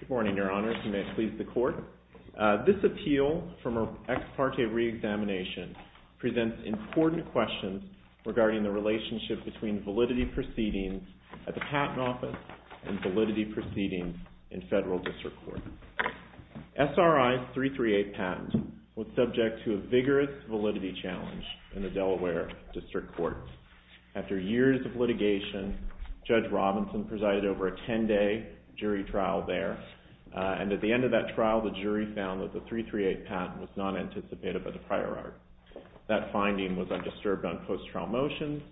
Good morning, your honors. You may please the court. This appeal from an ex parte re-examination presents important questions regarding the relationship between validity proceedings at the Patent Office and validity proceedings in Federal District Court. SRI 338 patent was subject to a vigorous validity challenge in the Delaware District Court. After years of litigation, Judge Robinson presided over a 10-day jury trial there, and at the end of that trial, the jury found that the 338 patent was not anticipated by the prior art. That finding was undisturbed on post-trial motions,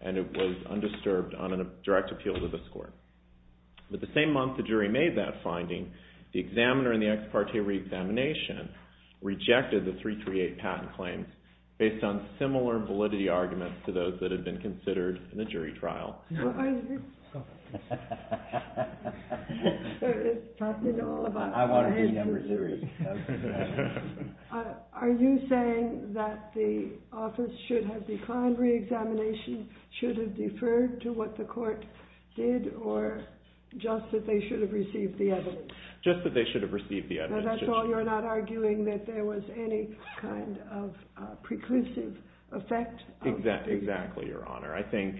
and it was undisturbed on a direct appeal to this court. But the same month the jury made that finding, the examiner in the ex parte re-examination rejected the 338 patent claims based on similar validity arguments to those that had been considered in the jury trial. Are you saying that the office should have declined re-examination, should have deferred to what the court did, or just that they should have received the evidence? Just that they should have received the evidence. So that's all, you're not arguing that there was any kind of preclusive effect? Exactly, Your Honor. I think,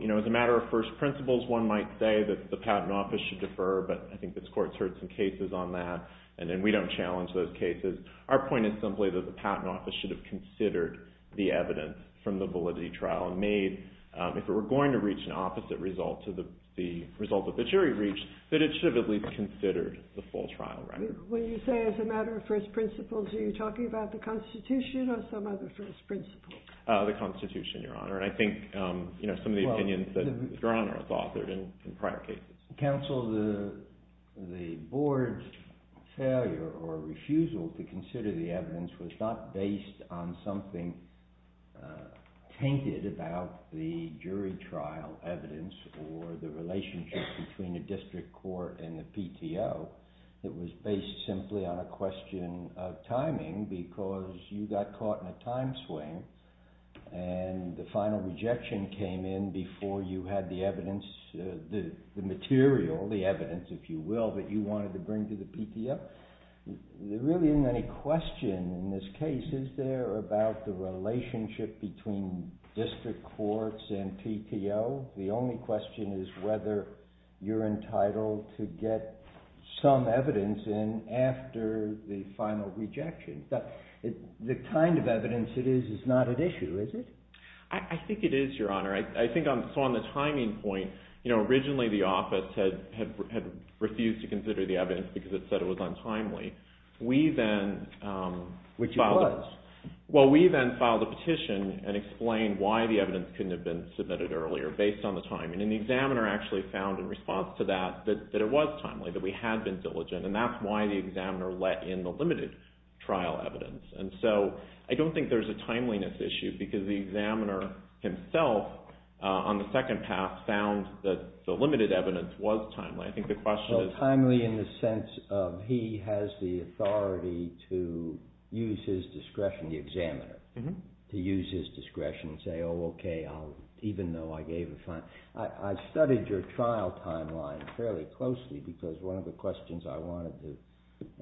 you know, as a matter of first principles, one might say that the Patent Office should defer, but I think this court's heard some cases on that, and then we don't challenge those cases. Our point is simply that the Patent Office should have considered the evidence from the validity trial and made, if it were going to reach an opposite result to the result that the jury reached, that it should have at least considered the full trial record. When you say, as a matter of first principles, are you talking about the Constitution or some other first principles? The Constitution, Your Honor, and I think, you know, some of the opinions that Your Honor has authored in prior cases. Counsel, the board's failure or refusal to consider the evidence was not based on something tainted about the jury trial evidence or the relationship between the district court and the PTO. It was based simply on a question of timing, because you got caught in a time swing, and the final rejection came in before you had the evidence, the material, the evidence, if you will, that you wanted to bring to the PTO. But there really isn't any question in this case, is there, about the relationship between district courts and PTO? The only question is whether you're entitled to get some evidence in after the final rejection. The kind of evidence it is is not at issue, is it? I think it is, Your Honor. I think on the timing point, you know, originally the office had refused to consider the evidence because it said it was untimely. We then filed a petition and explained why the evidence couldn't have been submitted earlier, based on the timing. And the examiner actually found, in response to that, that it was timely, that we had been diligent, and that's why the examiner let in the limited trial evidence. And so, I don't think there's a timeliness issue, because the examiner himself, on the second pass, found that the limited evidence was timely. I think the question is... Well, timely in the sense of he has the authority to use his discretion, the examiner, to use his discretion and say, oh, okay, even though I gave a fine. I studied your trial timeline fairly closely, because one of the questions I wanted to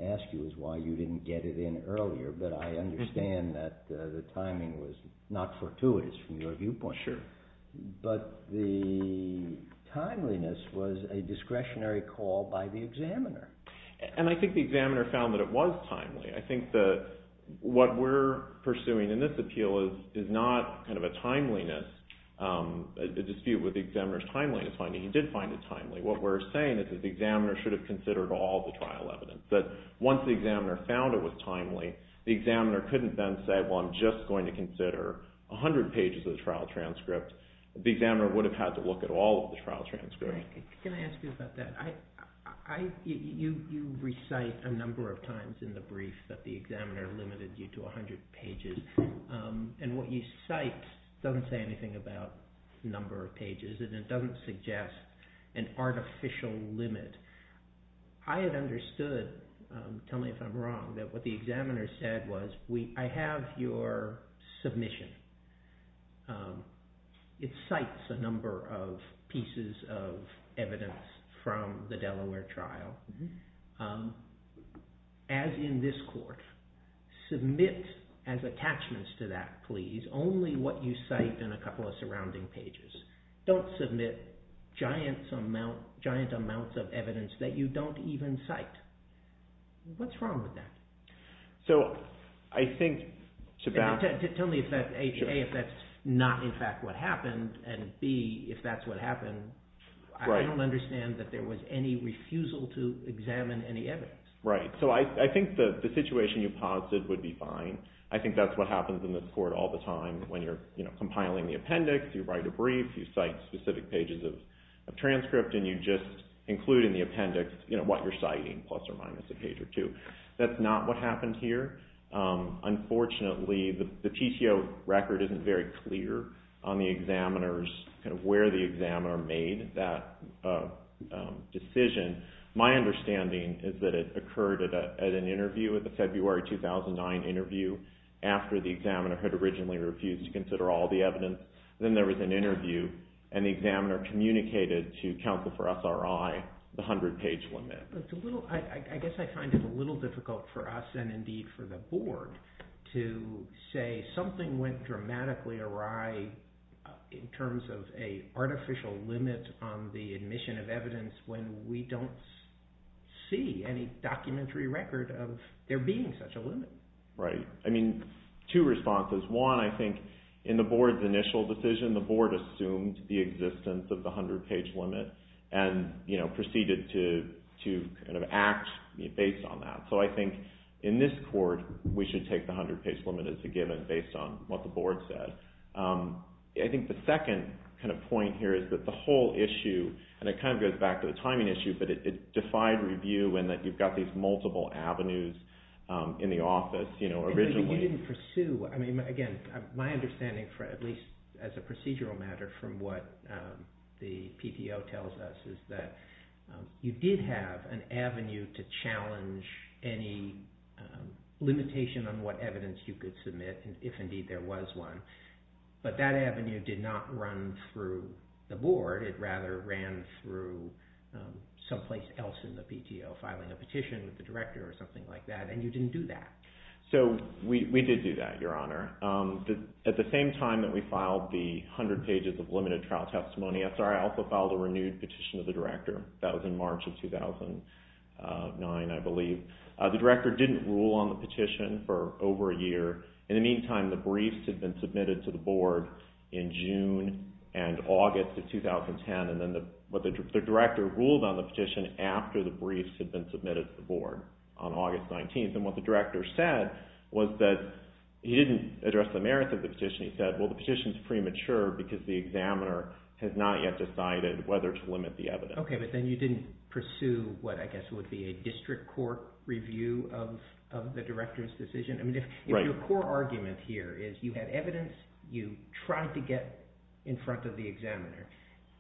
ask you is why you didn't get it in earlier. But I understand that the timing was not fortuitous from your viewpoint. Sure. But the timeliness was a discretionary call by the examiner. And I think the examiner found that it was timely. I think that what we're pursuing in this appeal is not kind of a timeliness dispute with the examiner's timeliness finding. He did find it timely. What we're saying is that the examiner should have considered all the trial evidence. But once the examiner found it was timely, the examiner couldn't then say, well, I'm just going to consider 100 pages of the trial transcript. The examiner would have had to look at all of the trial transcripts. Can I ask you about that? You recite a number of times in the brief that the examiner limited you to 100 pages. And what you cite doesn't say anything about number of pages. And it doesn't suggest an artificial limit. I had understood, tell me if I'm wrong, that what the examiner said was, I have your submission. It cites a number of pieces of evidence from the Delaware trial. As in this court, submit as attachments to that, please, only what you cite and a couple of surrounding pages. Don't submit giant amounts of evidence that you don't even cite. What's wrong with that? Tell me if that's A, if that's not in fact what happened, and B, if that's what happened. I don't understand that there was any refusal to examine any evidence. I think the situation you posited would be fine. I think that's what happens in this court all the time. When you're compiling the appendix, you write a brief, you cite specific pages of transcript, and you just include in the appendix what you're citing, plus or minus a page or two. That's not what happened here. Unfortunately, the PTO record isn't very clear on the examiner's, kind of where the examiner made that decision. My understanding is that it occurred at an interview, at the February 2009 interview, after the examiner had originally refused to consider all the evidence. Then there was an interview, and the examiner communicated to counsel for SRI the 100-page limit. I guess I find it a little difficult for us, and indeed for the board, to say something went dramatically awry in terms of an artificial limit on the admission of evidence when we don't see any documentary record of there being such a limit. Right. I mean, two responses. One, I think in the board's initial decision, the board assumed the existence of the 100-page limit, and proceeded to act based on that. So I think in this court, we should take the 100-page limit as a given, based on what the board said. I think the second point here is that the whole issue, and it kind of goes back to the timing issue, but it defied review in that you've got these multiple avenues in the office. Again, my understanding, at least as a procedural matter, from what the PTO tells us, is that you did have an avenue to challenge any limitation on what evidence you could submit, if indeed there was one. But that avenue did not run through the board. It rather ran through someplace else in the PTO, filing a petition with the director or something like that, and you didn't do that. So we did do that, Your Honor. At the same time that we filed the 100 pages of limited trial testimony, I'm sorry, I also filed a renewed petition to the director. That was in March of 2009, I believe. The director didn't rule on the petition for over a year. In the meantime, the briefs had been submitted to the board in June and August of 2010, and then the director ruled on the petition after the briefs had been submitted to the board on August 19th. And what the director said was that he didn't address the merits of the petition. He said, well, the petition is premature because the examiner has not yet decided whether to limit the evidence. Okay, but then you didn't pursue what I guess would be a district court review of the director's decision. I mean, if your core argument here is you had evidence, you tried to get in front of the examiner.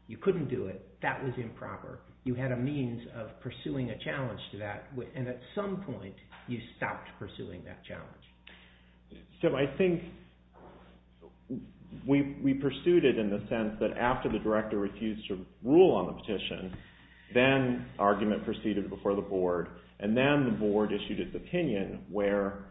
You couldn't do it. That was improper. You had a means of pursuing a challenge to that. And at some point, you stopped pursuing that challenge. So I think we pursued it in the sense that after the director refused to rule on the petition, then argument proceeded before the board. And then the board issued its opinion where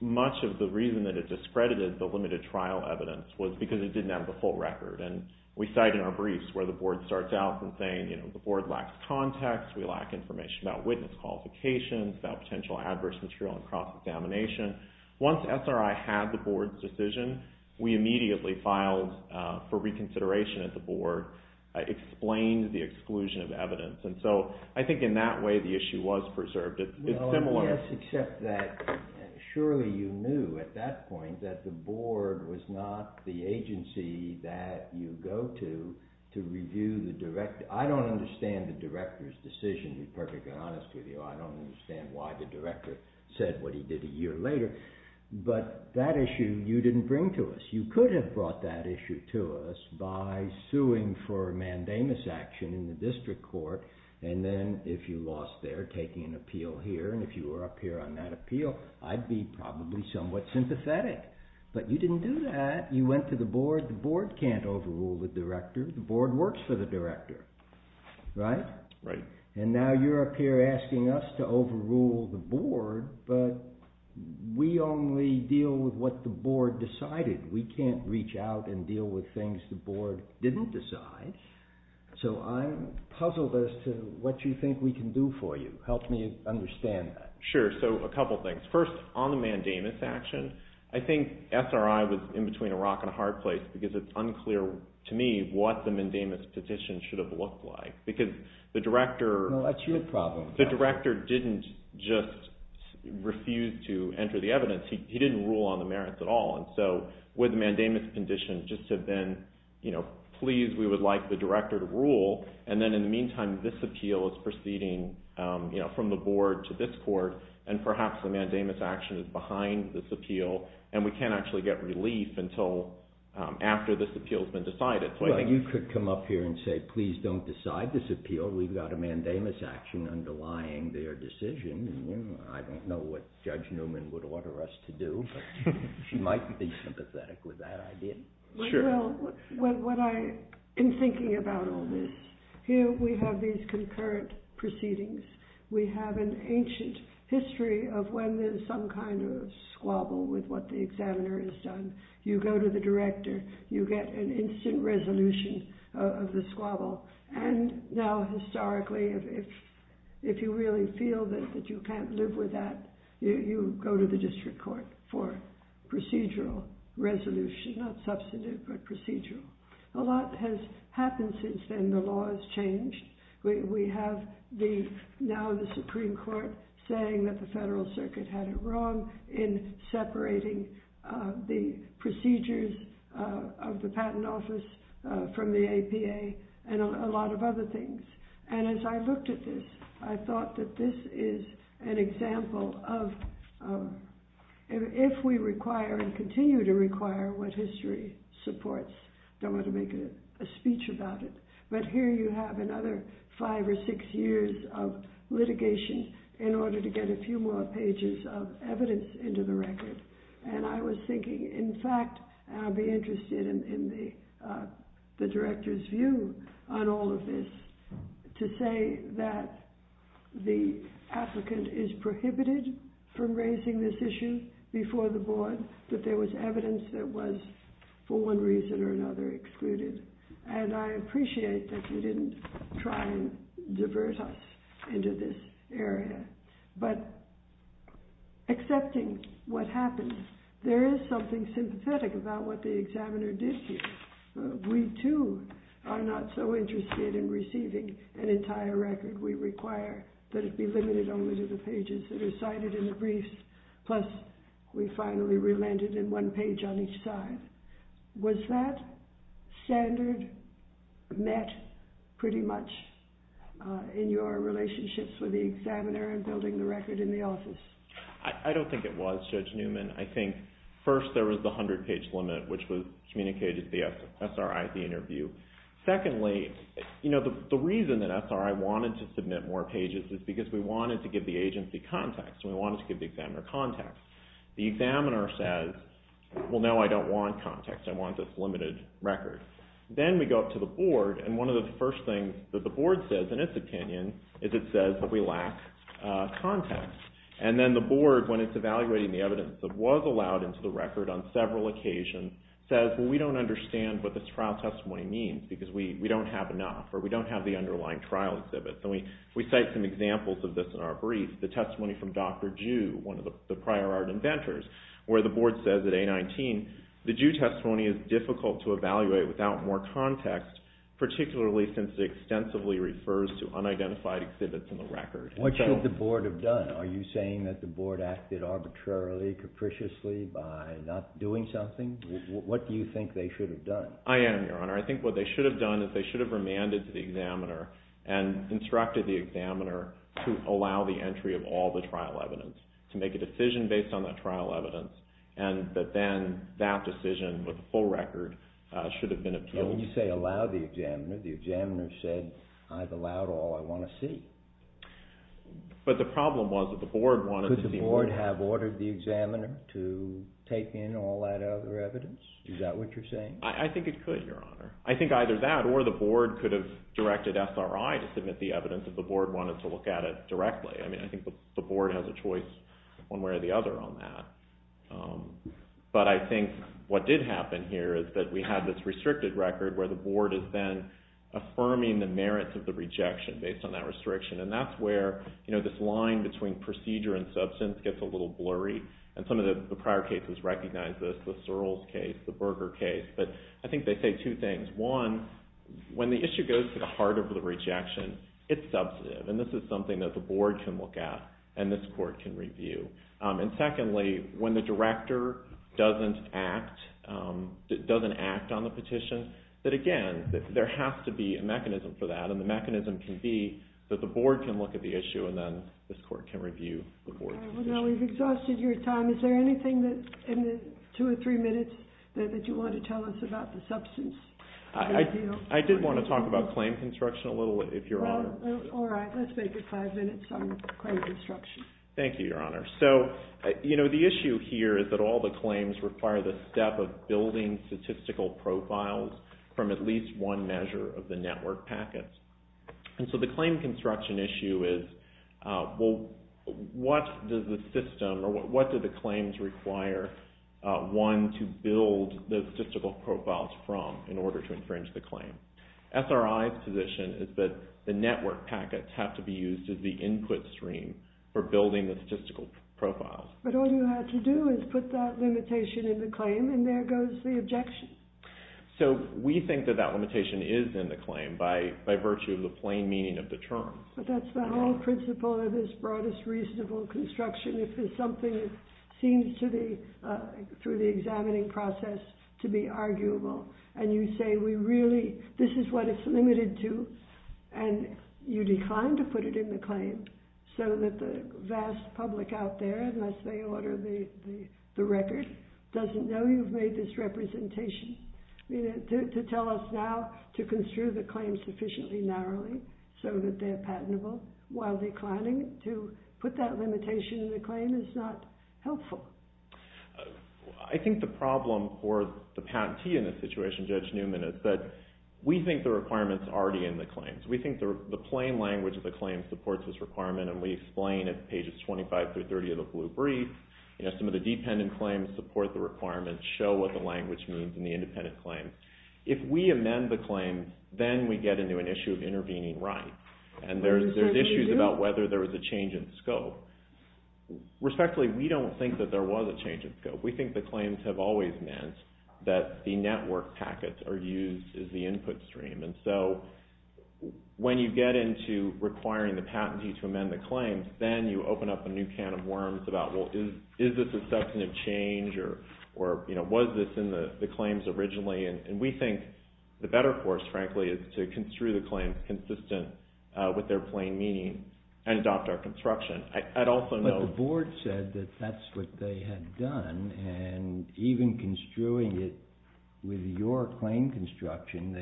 much of the reason that it discredited the limited trial evidence was because it didn't have the full record. And we cite in our briefs where the board starts out in saying, you know, the board lacks context. We lack information about witness qualifications, about potential adverse material in cross-examination. Once SRI had the board's decision, we immediately filed for reconsideration at the board, explained the exclusion of evidence. And so I think in that way, the issue was preserved. It's similar. Well, yes, except that surely you knew at that point that the board was not the agency that you go to to review the director. I don't understand the director's decision, to be perfectly honest with you. I don't understand why the director said what he did a year later. But that issue, you didn't bring to us. You could have brought that issue to us by suing for mandamus action in the district court. And then if you lost there, taking an appeal here, and if you were up here on that appeal, I'd be probably somewhat sympathetic. But you didn't do that. You went to the board. The board can't overrule the director. The board works for the director. Right? Right. And now you're up here asking us to overrule the board. But we only deal with what the board decided. We can't reach out and deal with things the board didn't decide. So I'm puzzled as to what you think we can do for you. Help me understand that. Sure. So a couple things. First, on the mandamus action, I think SRI was in between a rock and a hard place because it's unclear to me what the mandamus petition should have looked like. Because the director... No, that's your problem. The director didn't just refuse to enter the evidence. He didn't rule on the merits at all. And so with the mandamus petition, just to then, you know, please, we would like the director to rule. And then in the meantime, this appeal is proceeding, you know, from the board to this court. And perhaps the mandamus action is behind this appeal. And we can't actually get relief until after this appeal has been decided. Well, you could come up here and say, please don't decide this appeal. We've got a mandamus action underlying their decision. And I don't know what Judge Newman would order us to do. She might be sympathetic with that idea. Well, what I've been thinking about all this. Here we have these concurrent proceedings. We have an ancient history of when there's some kind of squabble with what the examiner has done. You go to the director. You get an instant resolution of the squabble. And now historically, if you really feel that you can't live with that, you go to the district court for procedural resolution. Not substantive, but procedural. A lot has happened since then. The law has changed. We have now the Supreme Court saying that the Federal Circuit had it wrong in separating the procedures of the Patent Office from the APA and a lot of other things. And as I looked at this, I thought that this is an example of if we require and continue to require what history supports. Don't want to make a speech about it. But here you have another five or six years of litigation in order to get a few more pages of evidence into the record. And I was thinking, in fact, and I'll be interested in the director's view on all of this, to say that the applicant is prohibited from raising this issue before the board, that there was evidence that was, for one reason or another, excluded. And I appreciate that you didn't try and divert us into this area. But accepting what happened, there is something sympathetic about what the examiner did here. We, too, are not so interested in receiving an entire record. We require that it be limited only to the pages that are cited in the briefs, plus we finally relented in one page on each side. Was that standard met, pretty much, in your relationships with the examiner and building the record in the office? I don't think it was, Judge Newman. I think, first, there was the 100-page limit, which was communicated to the SRI at the interview. Secondly, the reason that SRI wanted to submit more pages is because we wanted to give the agency context and we wanted to give the examiner context. The examiner says, well, no, I don't want context. I want this limited record. Then we go up to the board and one of the first things that the board says, in its opinion, is it says that we lack context. And then the board, when it's evaluating the evidence that was allowed into the record on several occasions, says, well, we don't understand what this trial testimony means because we don't have enough or we don't have the underlying trial exhibits. And we cite some examples of this in our brief. The testimony from Dr. Jew, one of the prior art inventors, where the board says at A-19, the Jew testimony is difficult to evaluate without more context, particularly since it extensively refers to unidentified exhibits in the record. What should the board have done? Are you saying that the board acted arbitrarily, capriciously, by not doing something? What do you think they should have done? I am, Your Honor. I think what they should have done is they should have remanded to the examiner and instructed the examiner to allow the entry of all the trial evidence, to make a decision based on that trial evidence, and that then that decision with the full record should have been observed. When you say allow the examiner, the examiner said, I've allowed all I want to see. But the problem was that the board wanted to see more. Could the board have ordered the examiner to take in all that other evidence? Is that what you're saying? I think it could, Your Honor. I think either that or the board could have directed SRI to submit the evidence if the board wanted to look at it directly. I mean, I think the board has a choice one way or the other on that. But I think what did happen here is that we had this restricted record where the board is then affirming the merits of the rejection based on that restriction. And that's where, you know, this line between procedure and substance gets a little blurry. And some of the prior cases recognize this, the Searles case, the Berger case. But I think they say two things. One, when the issue goes to the heart of the rejection, it's substantive. And this is something that the board can look at and this court can review. And secondly, when the director doesn't act, doesn't act on the petition, that again, there has to be a mechanism for that. And the mechanism can be that the board can look at the issue and then this court can review the board's decision. All right. Well, now we've exhausted your time. Is there anything in the two or three minutes that you want to tell us about the substance? I did want to talk about claim construction a little, if Your Honor. All right. Let's make it five minutes on claim construction. Thank you, Your Honor. So, you know, the issue here is that all the claims require the step of building statistical profiles from at least one measure of the network packets. And so the claim construction issue is, well, what does the system, or what do the claims require one to build the statistical profiles from in order to infringe the claim? SRI's position is that the network packets have to be used as the input stream for building the statistical profiles. But all you had to do is put that limitation in the claim and there goes the objection. So we think that that limitation is in the claim by virtue of the plain meaning of the term. But that's the whole principle of this broadest reasonable construction. If there's something that seems to be, through the examining process, to be arguable and you say we really, this is what it's limited to, and you decline to put it in the claim so that the vast public out there, unless they order the record, doesn't know you've made this representation. To tell us now to construe the claim sufficiently narrowly so that they're patentable while declining to put that limitation in the claim is not helpful. I think the problem for the patentee in this situation, Judge Newman, is that we think the requirement's already in the claims. We think the plain language of the claim supports this requirement and we explain at pages 25 through 30 of the blue brief. Some of the dependent claims support the requirement, show what the language means in the independent claim. If we amend the claim, then we get into an issue of intervening right. And there's issues about whether there was a change in scope. Respectfully, we don't think that there was a change in scope. We think the claims have always meant that the network packets are used as the input stream. And so when you get into requiring the patentee to amend the claim, then you open up a new can of worms about, well, is this a substantive change or was this in the claims originally? And we think the better course, frankly, is to construe the claim consistent with their plain meaning and adopt our construction. I'd also note... But the board said that that's what they had done. And even construing it with your claim construction,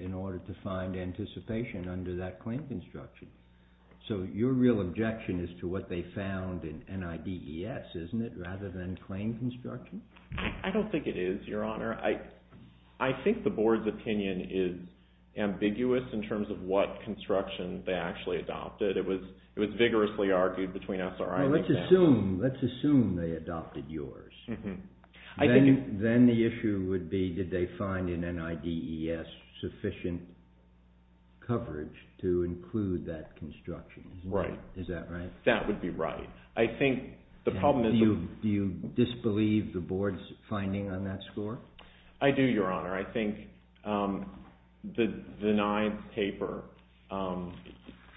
in order to find anticipation under that claim construction. So your real objection is to what they found in NIDES, isn't it, rather than claim construction? I don't think it is, Your Honor. I think the board's opinion is ambiguous in terms of what construction they actually adopted. It was vigorously argued between us. Well, let's assume they adopted yours. Then the issue would be, did they find in NIDES sufficient coverage to include that construction? Right. Is that right? That would be right. I think the problem is... Do you disbelieve the board's finding on that score? I do, Your Honor. I think the ninth paper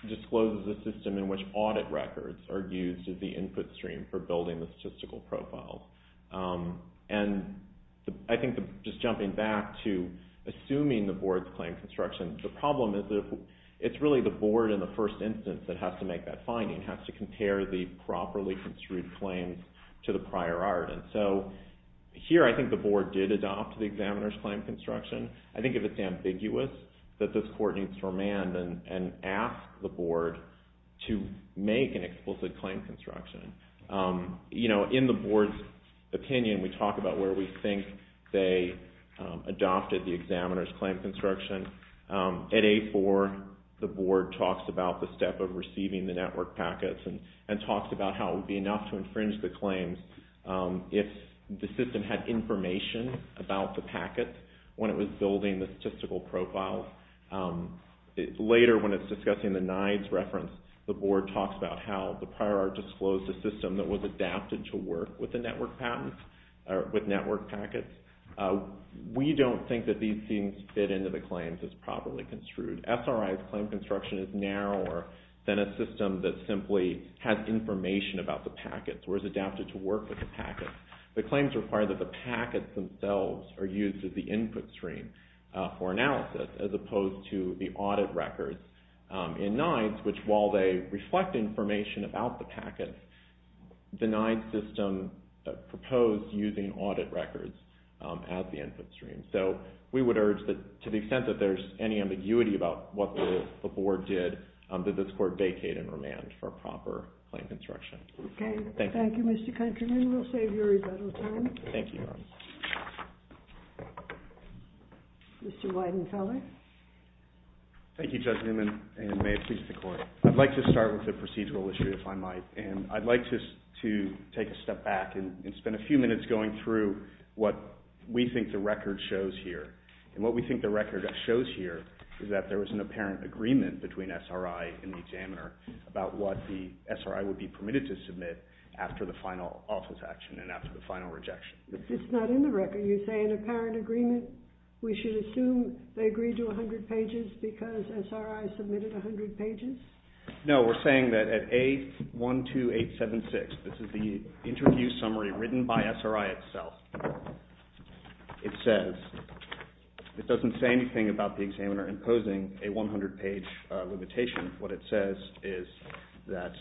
discloses a system in which audit records are used as the input stream for building the statistical profiles. And I think, just jumping back to assuming the board's claim construction, the problem is that it's really the board in the first instance that has to make that finding, has to compare the properly construed claims to the prior art. And so, here I think the board did adopt the examiner's claim construction. I think it's ambiguous that this court needs to remand and ask the board to make an explicit claim construction. You know, in the board's opinion, we talk about where we think they adopted the examiner's claim construction. At A4, the board talks about the step of receiving the network packets and talks about how it would be enough to infringe the claims if the system had information about the packets when it was building the statistical profiles. Later, when it's discussing the NIDES reference, the board talks about how the prior art disclosed a system that was adapted to work with network packets. We don't think that these things fit into the claims as properly construed. SRI's claim construction is narrower than a system that simply has information about the packets or is adapted to work with the packets. The claims require that the packets themselves are used as the input stream for analysis, as opposed to the audit records in NIDES, which, while they reflect information about the packets, the NIDES system proposed using audit records as the input stream. So, we would urge that, to the extent that there's any ambiguity about what the board did, that this court vacate and remand for a proper claim construction. Okay. Thank you, Mr. Countryman. We'll save you a little time. Thank you, Your Honor. Mr. Weidenfeller? Thank you, Judge Newman, and may it please the Court. I'd like to start with the procedural issue, if I might. And I'd like to take a step back and spend a few minutes going through what we think the record shows here. And what we think the record shows here is that there was an apparent agreement between SRI and the examiner about what the SRI would be permitted to submit after the final office action and after the final rejection. It's not in the record. You're saying an apparent agreement? We should assume they agreed to 100 pages because SRI submitted 100 pages? No, we're saying that at A12876, this is the interview summary written by SRI itself. It says, it doesn't say anything about the examiner imposing a 100-page limitation. What it says is that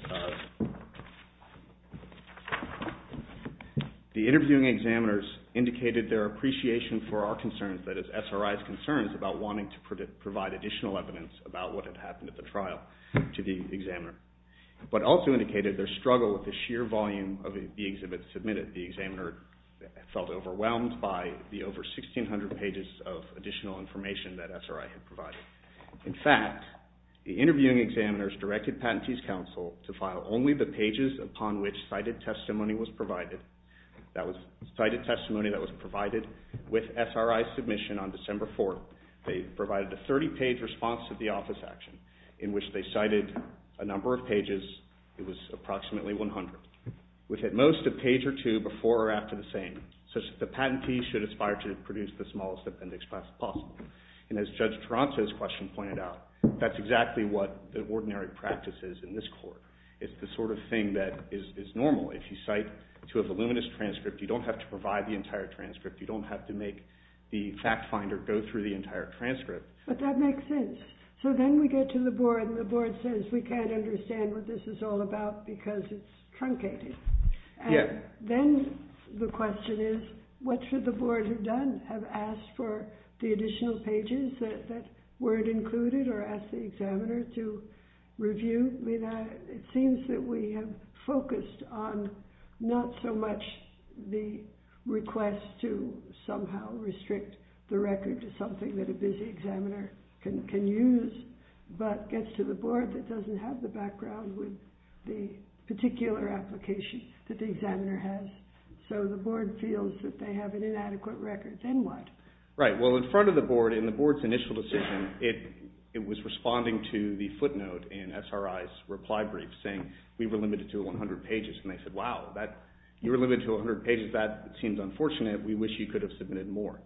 the interviewing examiners indicated their appreciation for our concerns, that is, SRI's concerns about wanting to provide additional evidence about what had happened at the trial to the examiner, but also indicated their struggle with the sheer volume of the exhibits submitted. The examiner felt overwhelmed by the over 1,600 pages of additional information that SRI had provided. In fact, the interviewing examiners directed Patentee's Counsel to file only the pages upon which cited testimony was provided. That was cited testimony that was provided with SRI's submission on December 4th. They provided a 30-page response to the office action in which they cited a number of pages. It was approximately 100. We've had most of page or two before or after the same, such that the Patentee should aspire to produce the smallest appendix possible. And as Judge Taranto's question pointed out, that's exactly what the ordinary practice is in this court. It's the sort of thing that is normal. If you cite to a voluminous transcript, you don't have to provide the entire transcript. You don't have to make the fact finder go through the entire transcript. But that makes sense. So then we get to the board and the board says, we can't understand what this is all about because it's truncated. Yeah. And then the question is, what should the board have done? Have asked for the additional pages that weren't included or asked the examiner to review? It seems that we have focused on not so much the request to somehow restrict the record to something that a busy examiner can use, but gets to the board that doesn't have the background with the particular application that the examiner has. So the board feels that they have an inadequate record. Then what? Right. Well, in front of the board, in the board's initial decision, it was responding to the footnote in SRI's reply brief saying, we were limited to 100 pages. And they said, wow, you were limited to 100 pages. That seems unfortunate. We wish you could have submitted more.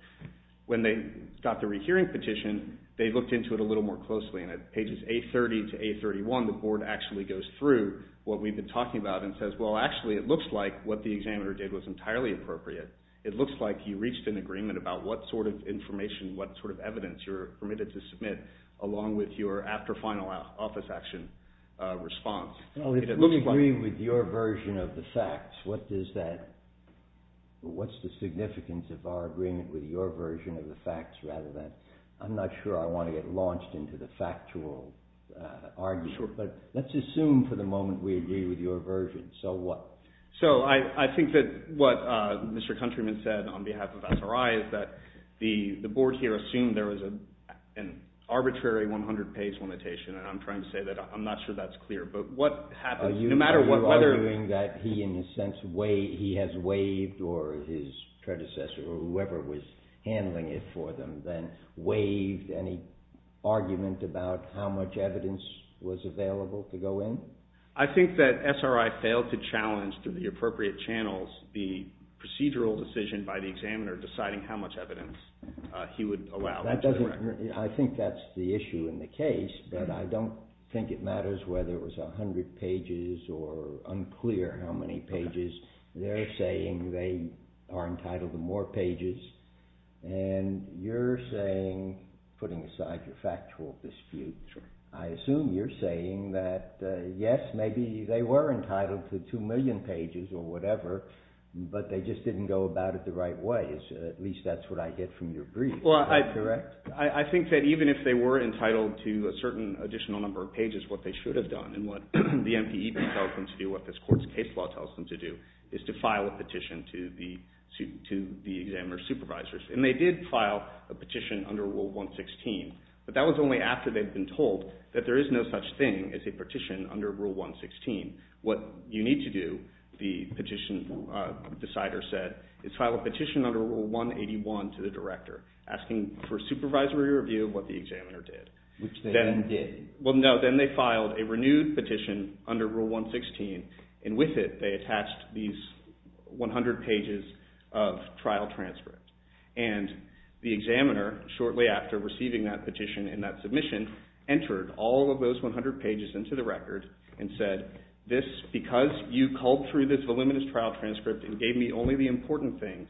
When they got the rehearing petition, they looked into it a little more closely. And at pages 830 to 831, the board actually goes through what we've been talking about and says, well, actually, it looks like what the examiner did was entirely appropriate. It looks like you reached an agreement about what sort of information, what sort of evidence you're permitted to submit, along with your after-final office action response. Well, if we agree with your version of the facts, what does that, what's the significance of our agreement with your version of the facts rather than, I'm not sure I want to get launched into the factual argument, but let's assume for the moment we agree with your version. So what? So I think that what Mr. Countryman said on behalf of SRI is that the board here assumed there was an arbitrary 100-page limitation, and I'm trying to say that I'm not sure that's clear. But what happens, no matter whether... Are you arguing that he, in a sense, has waived, or his predecessor or whoever was handling it for them, then waived any argument about how much evidence was available to go in? I think that SRI failed to challenge, through the appropriate channels, the procedural decision by the examiner deciding how much evidence he would allow. I think that's the issue in the case, but I don't think it matters whether it was 100 pages or unclear how many pages. They're saying they are entitled to more pages, and you're saying, putting aside your factual dispute, I assume you're saying that, yes, maybe they were entitled to 2 million pages, or whatever, but they just didn't go about it the right way. At least that's what I get from your brief. Well, I think that even if they were entitled to a certain additional number of pages, what they should have done, and what the MPEB tells them to do, what this court's case law tells them to do, is to file a petition to the examiner's supervisors. And they did file a petition under Rule 116, but that was only after they'd been told that there is no such thing as a petition under Rule 116. What you need to do, the petition decider said, is file a petition under Rule 181 to the director, asking for a supervisory review of what the examiner did. Which they then did. Well, no, then they filed a renewed petition under Rule 116, and with it they attached these 100 pages of trial transcript. And the examiner, shortly after receiving that petition and that submission, entered all of those 100 pages into the record, and said, because you culled through this voluminous trial transcript and gave me only the important things,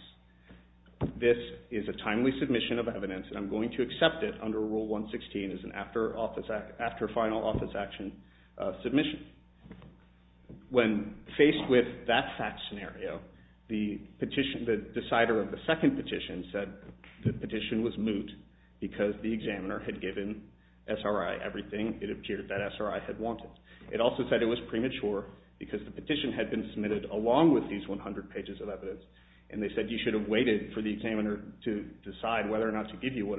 this is a timely submission of evidence, and I'm going to accept it under Rule 116 as an after-final office action submission. When faced with that fact scenario, the decider of the second petition said the petition was moot, because the examiner had given SRI everything it appeared that SRI had wanted. It also said it was premature, because the petition had been submitted along with these 100 pages of evidence. And they said you should have waited for the examiner to decide whether or not to give you what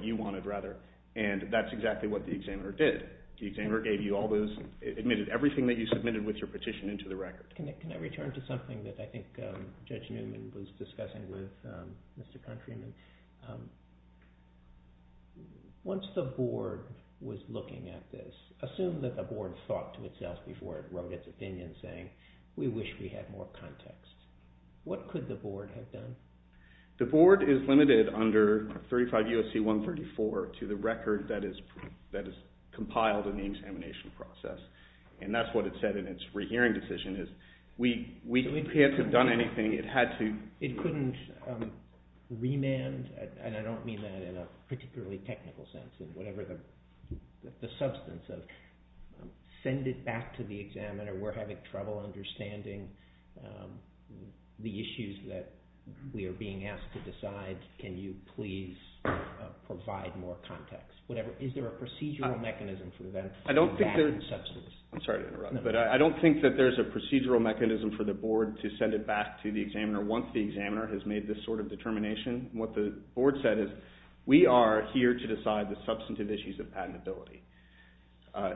you wanted. And that's exactly what the examiner did. The examiner admitted everything that you submitted with your petition into the record. Can I return to something that I think Judge Newman was discussing with Mr. Countryman? Once the Board was looking at this, assume that the Board thought to itself before it wrote its opinion, saying, we wish we had more context. What could the Board have done? The Board is limited under 35 U.S.C. 134 to the record that is compiled in the examination process. And that's what it said in its rehearing decision, is we can't have done anything. It couldn't remand, and I don't mean that in a particularly technical sense, in whatever the substance of, send it back to the examiner, we're having trouble understanding the issues that we are being asked to decide. Can you please provide more context? Is there a procedural mechanism for that substance? I'm sorry to interrupt, but I don't think that there's a procedural mechanism for the Board to send it back to the examiner once the examiner has made this sort of determination. What the Board said is, we are here to decide the substantive issues of patentability.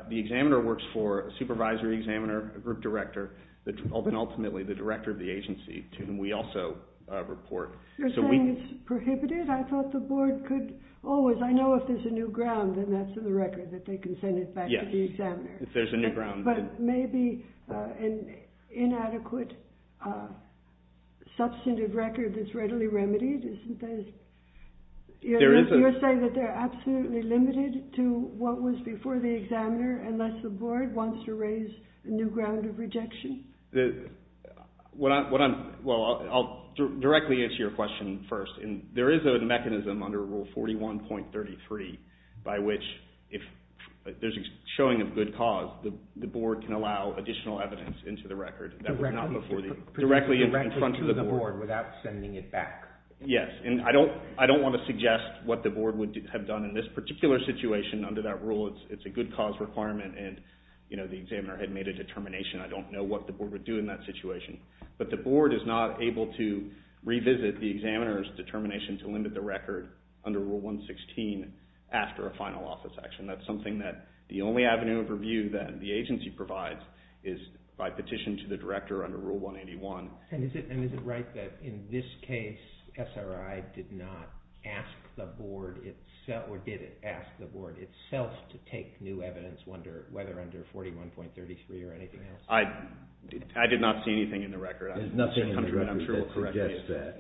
The examiner works for a supervisory examiner, a group director, and ultimately the director of the agency, to whom we also report. You're saying it's prohibited? I thought the Board could always, I know if there's a new ground, then that's in the record, that they can send it back to the examiner. Yes, if there's a new ground. But maybe an inadequate substantive record that's readily remedied? You're saying that they're absolutely limited to what was before the examiner, unless the Board wants to raise a new ground of rejection? Well, I'll directly answer your question first. There is a mechanism under Rule 41.33, by which, if there's a showing of good cause, the Board can allow additional evidence into the record directly in front of the Board. Without sending it back? Yes, and I don't want to suggest what the Board would have done in this particular situation. Under that rule, it's a good cause requirement, and the examiner had made a determination. I don't know what the Board would do in that situation. But the Board is not able to revisit the examiner's determination to limit the record under Rule 116 after a final office action. That's something that the only avenue of review that the agency provides is by petition to the director under Rule 181. And is it right that, in this case, SRI did not ask the Board itself, or did it ask the Board itself to take new evidence, whether under 41.33 or anything else? I did not see anything in the record. There's nothing in the record that suggests that.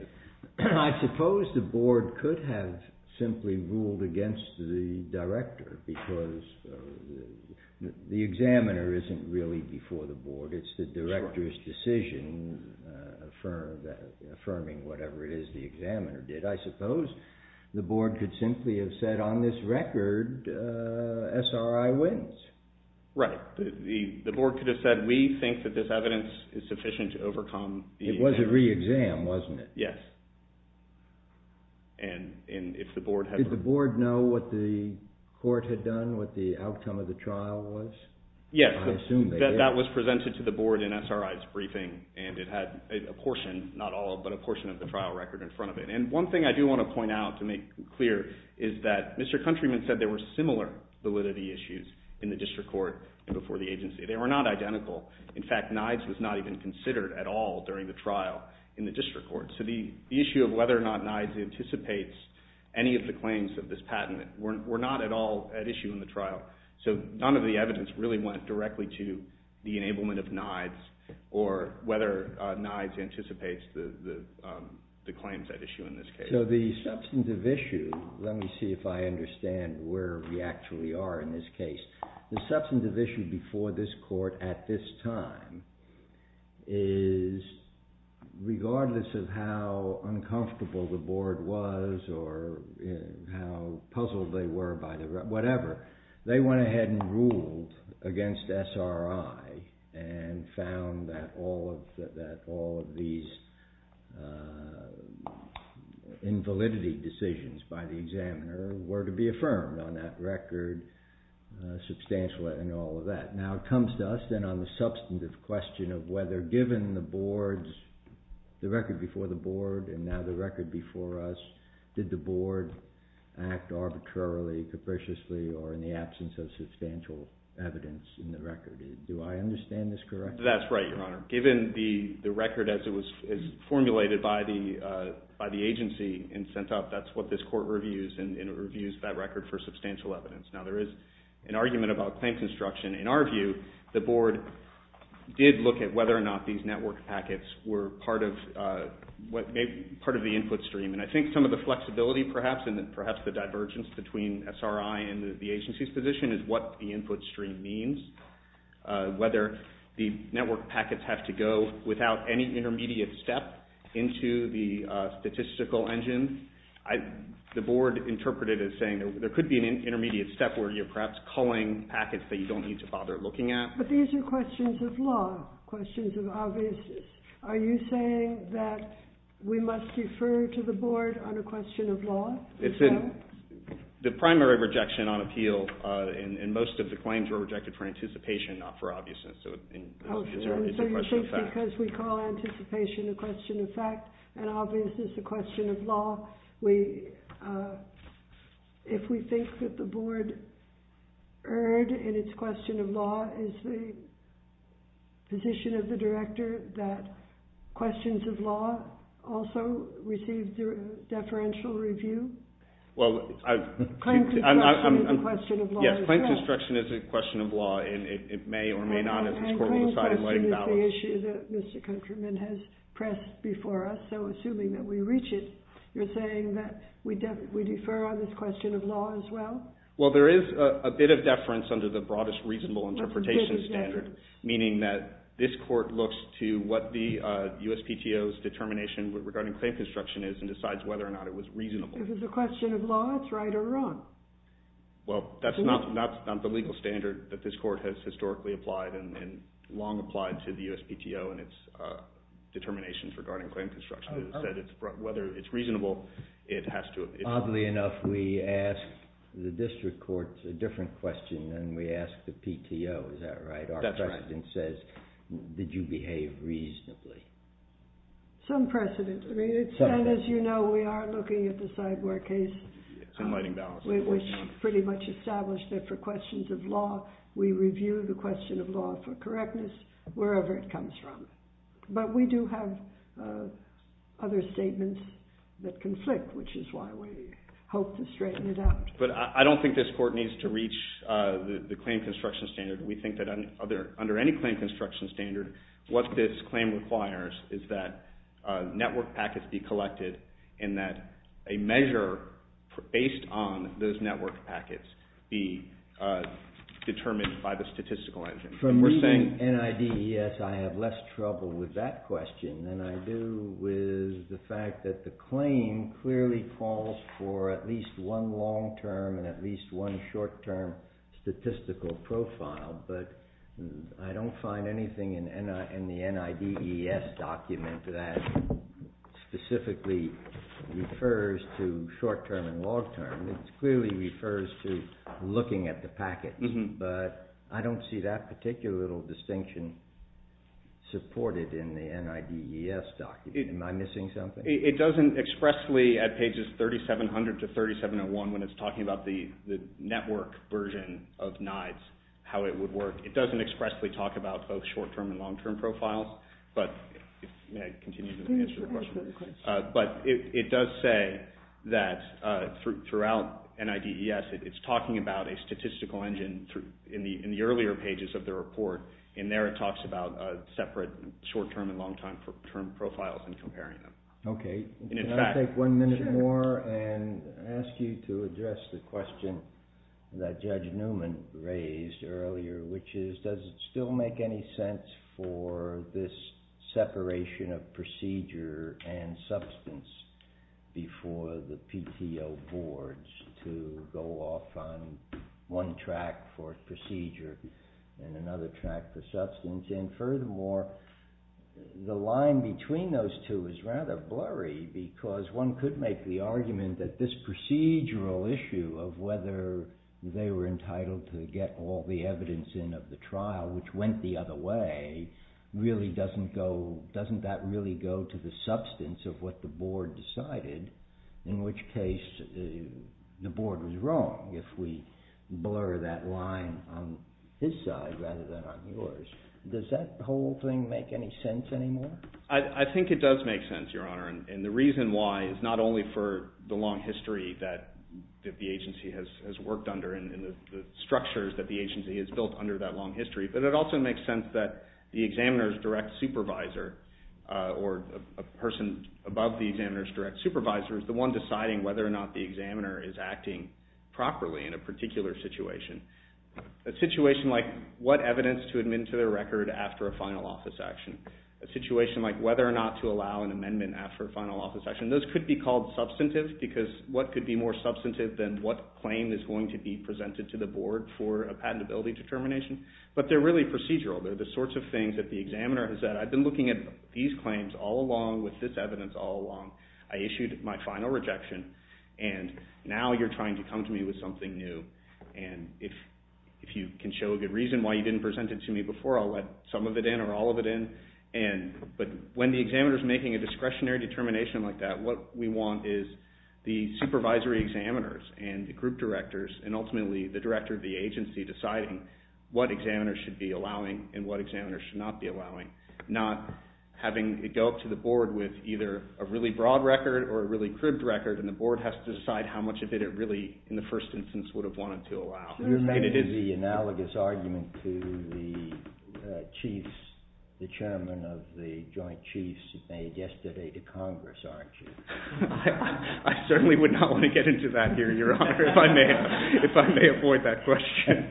I suppose the Board could have simply ruled against the director, because the examiner isn't really before the Board. It's the director's decision, affirming whatever it is the examiner did. I suppose the Board could simply have said, on this record, SRI wins. Right. The Board could have said, we think that this evidence is sufficient to overcome... It was a re-exam, wasn't it? Yes. And if the Board had... Did the Board know what the court had done, what the outcome of the trial was? Yes. I assume they did. That was presented to the Board in SRI's briefing, and it had a portion, not all, but a portion of the trial record in front of it. And one thing I do want to point out to make clear is that Mr. Countryman said there were similar validity issues in the district court and before the agency. They were not identical. In fact, NIDES was not even considered at all during the trial in the district court. So the issue of whether or not NIDES anticipates any of the claims of this patent were not at all at issue in the trial. So none of the evidence really went directly to the enablement of NIDES or whether NIDES anticipates the claims at issue in this case. So the substantive issue... Let me see if I understand where we actually are in this case. The substantive issue before this court at this time is regardless of how uncomfortable the Board was or how puzzled they were by the record, whatever, they went ahead and ruled against SRI and found that all of these invalidity decisions by the examiner were to be affirmed on that record, substantial and all of that. Now it comes to us then on the substantive question of whether given the Board's... the record before the Board and now the record before us, did the Board act arbitrarily, capriciously, or in the absence of substantial evidence in the record? Do I understand this correctly? That's right, Your Honor. Given the record as it was formulated by the agency and sent up, that's what this court reviews, and it reviews that record for substantial evidence. Now there is an argument about claim construction. In our view, the Board did look at whether or not these network packets were part of the input stream, and I think some of the flexibility perhaps and perhaps the divergence between SRI and the agency's position is what the input stream means. Whether the network packets have to go without any intermediate step into the statistical engine, the Board interpreted it as saying there could be an intermediate step where you're perhaps culling packets that you don't need to bother looking at. But these are questions of law, questions of obviousness. Are you saying that we must refer to the Board on a question of law? It's a primary rejection on appeal, and most of the claims were rejected for anticipation, not for obviousness. So it's a question of fact. Because we call anticipation a question of fact, and obviousness a question of law, if we think that the Board erred in its question of law, is the position of the Director that questions of law also receive deferential review? Well, I... Claim construction is a question of law. Yes, claim construction is a question of law, and it may or may not, if this Court will decide to let it balance. And claim construction is the issue that Mr. Countryman has pressed before us, so assuming that we reach it, you're saying that we defer on this question of law as well? Well, there is a bit of deference under the broadest reasonable interpretation standard, meaning that this Court looks to what the USPTO's determination regarding claim construction is, and decides whether or not it was reasonable. If it's a question of law, it's right or wrong? Well, that's not the legal standard that this Court has historically applied, and long applied to the USPTO in its determinations regarding claim construction. Whether it's reasonable, it has to... Oddly enough, we ask the District Courts a different question than we ask the PTO, is that right? That's right. Our question says, did you behave reasonably? Some precedent. And as you know, we are looking at the Cyborg case, which pretty much established that for questions of law, we review the question of law for correctness, wherever it comes from. But we do have other statements that conflict, which is why we hope to straighten it out. But I don't think this Court needs to reach the claim construction standard. We think that under any claim construction standard, what this claim requires is that network packets be collected, and that a measure based on those network packets be determined by the statistical engine. From reading NIDES, I have less trouble with that question than I do with the fact that the claim clearly calls for at least one long-term and at least one short-term statistical profile. But I don't find anything in the NIDES document that specifically refers to short-term and long-term. It clearly refers to looking at the packets. But I don't see that particular distinction supported in the NIDES document. Am I missing something? It doesn't expressly, at pages 3700 to 3701, when it's talking about the network version of NIDES, how it would work, it doesn't expressly talk about both short-term and long-term profiles. But it does say that throughout NIDES, it's talking about a statistical engine in the earlier pages of the report. In there, it talks about separate short-term and long-term profiles and comparing them. Can I take one minute more and ask you to address the question that Judge Newman raised earlier, which is, does it still make any sense for this separation of procedure and substance before the PTO boards to go off on one track for procedure and another track for substance? And furthermore, the line between those two is rather blurry because one could make the argument that this procedural issue of whether they were entitled to get all the evidence in of the trial, which went the other way, really doesn't go, doesn't that really go to the substance of what the board decided, in which case the board was wrong if we blur that line on his side rather than on yours. Does that whole thing make any sense anymore? I think it does make sense, Your Honor, and the reason why is not only for the long history that the agency has worked under and the structures that the agency has built under that long history, but it also makes sense that the examiner's direct supervisor or a person above the examiner's direct supervisor is the one deciding whether or not the examiner is acting properly in a particular situation. A situation like what evidence to admit to the record after a final office action. A situation like whether or not to allow an amendment after a final office action. Those could be called substantive because what could be more substantive than what claim is going to be presented to the board for a patentability determination? But they're really procedural. They're the sorts of things that the examiner has said, I've been looking at these claims all along with this evidence all along. I issued my final rejection and now you're trying to come to me with something new and if you can show a good reason why you didn't present it to me before I'll let some of it in or all of it in but when the examiner's making a discretionary determination like that what we want is the supervisory examiners and the group directors and ultimately the director of the agency deciding what examiners should be allowing and what examiners should not be allowing. Not having it go up to the board with either a really broad record or a really cribbed record and the board has to decide how much of it it really in the first instance would have wanted to allow. You're making the analogous argument to the chiefs, the chairman of the joint chiefs who made yesterday to Congress, aren't you? I certainly would not want to get into that here, your honor, if I may avoid that question.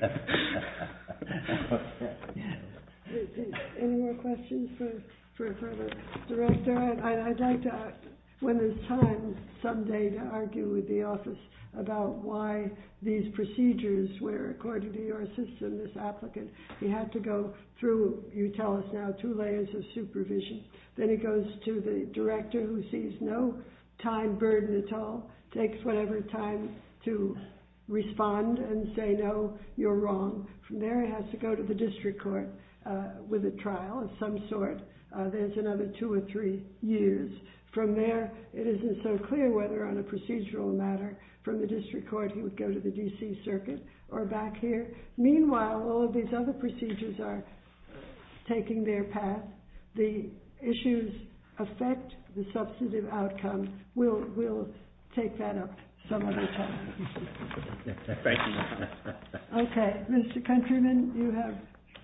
Okay. Any more questions for the director? I'd like to when there's time someday to argue with the office about why these procedures were according to your system, this applicant, he had to go through you tell us now, two layers of supervision. Then it goes to the director who sees no time burden at all, takes whatever time to respond and say no, you're wrong. From there it has to go to the district court of some sort. There's another two or three years. From there it isn't so clear whether on a procedural matter from the district court he would go to the D.C. circuit or back here. Meanwhile, all of these other procedures are taking their path. The issues affect the substantive outcome. We'll take that up some other time. Thank you. Okay. Mr. Countryman, you have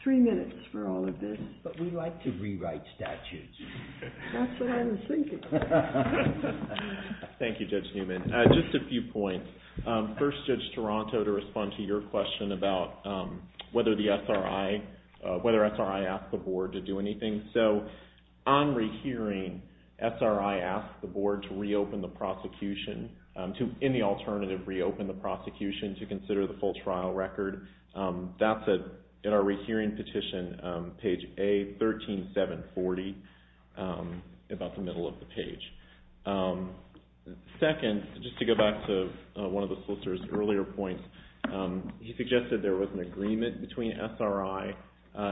three minutes for all of this, but we'd like to rewrite statutes. That's what I was thinking. Thank you, Judge Newman. Just a few points. First, Judge Toronto to respond to your question about whether the S.R.I., whether S.R.I. asked the board to do anything. So on rehearing, S.R.I. asked the board to reopen the prosecution to, in the alternative, reopen the prosecution to consider the full trial record. That's at our rehearing petition, page A13740, about the middle of the page. Second, just to go back to one of the solicitor's earlier points, he suggested there was an agreement between S.R.I.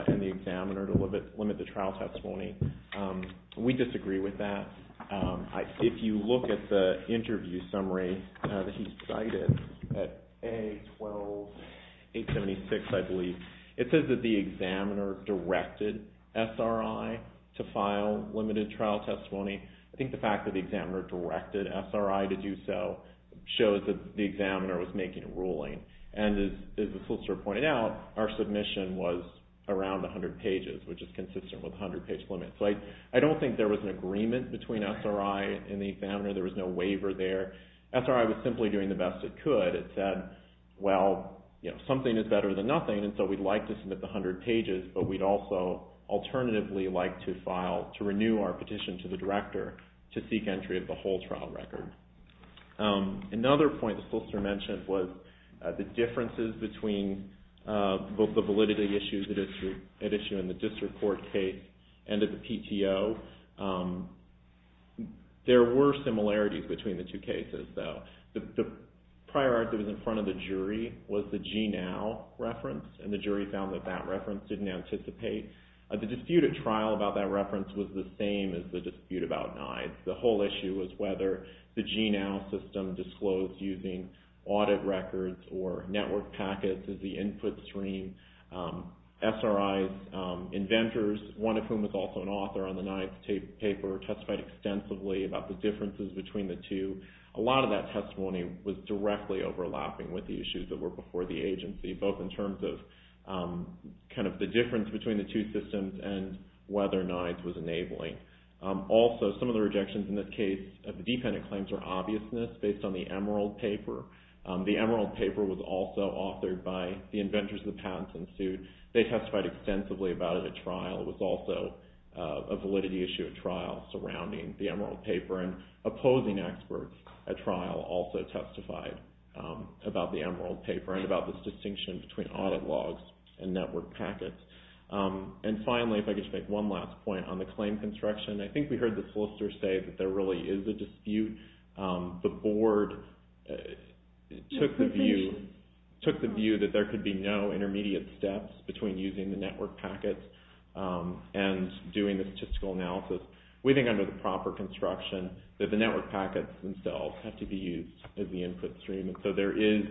and the examiner to limit the trial testimony. We disagree with that. If you look at the interview summary that he cited at A12876, I believe, it says that the examiner directed S.R.I. to file limited trial testimony. I think the fact that the examiner directed S.R.I. to do so shows that the examiner was making a ruling. And as the solicitor pointed out, our submission was around 100 pages, which is consistent with 100 page limit. So I don't think there was an agreement between S.R.I. and the examiner. There was no waiver there. S.R.I. was simply doing the best it could. It said, well, something is better than nothing, and so we'd like to submit the 100 pages, but we'd also alternatively like to renew our petition to the director to seek entry of the whole trial record. Another point the solicitor mentioned was the differences between both the validity issues at issue in the district court case and at the PTO. There were similarities between the two cases, though. The prior art that was in front of the jury was the GNOW reference, and the jury found that that reference didn't anticipate. The dispute at trial about that reference was the same as the dispute about NIDES. The whole issue was whether the GNOW system disclosed using audit records or network packets as the input stream. S.R.I.'s inventors, one of whom was also an author on the NIDES paper, testified extensively about the differences between the two. A lot of that testimony was directly overlapping with the issues that were before the agency, both in terms of the difference between the two systems and whether NIDES was enabling. Also, some of the rejections in this case of the dependent claims are obviousness based on the Emerald paper. The Emerald paper was also authored by the inventors of the patent institute. They testified extensively about it at trial. It was also a validity issue at trial surrounding the Emerald paper. And opposing experts at trial also testified about the Emerald paper and about this distinction between audit logs and network packets. And finally, if I could just make one last point on the claim construction, I think we heard the solicitor say that there really is a dispute. The board took the view that there could be no intermediate steps between using the network packets and doing the statistical analysis. We think under the proper construction that the network packets themselves have to be used as the input stream. And so there is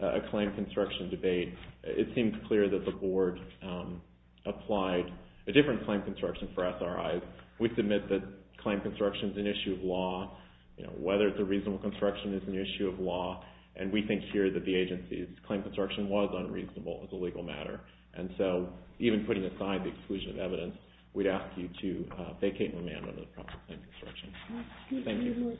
a claim construction debate. It seems clear that the board applied a different claim construction for SRIs. We submit that claim construction is an issue of law. Whether it's a reasonable construction is an issue of law. And we think here that the agency's claim construction was unreasonable as a legal matter. And so, even putting aside the exclusion of evidence, we'd ask you to vacate and remand under the proper claim construction. Thank you.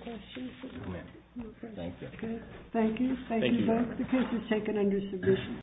Thank you. Thank you both. The case is taken under submission.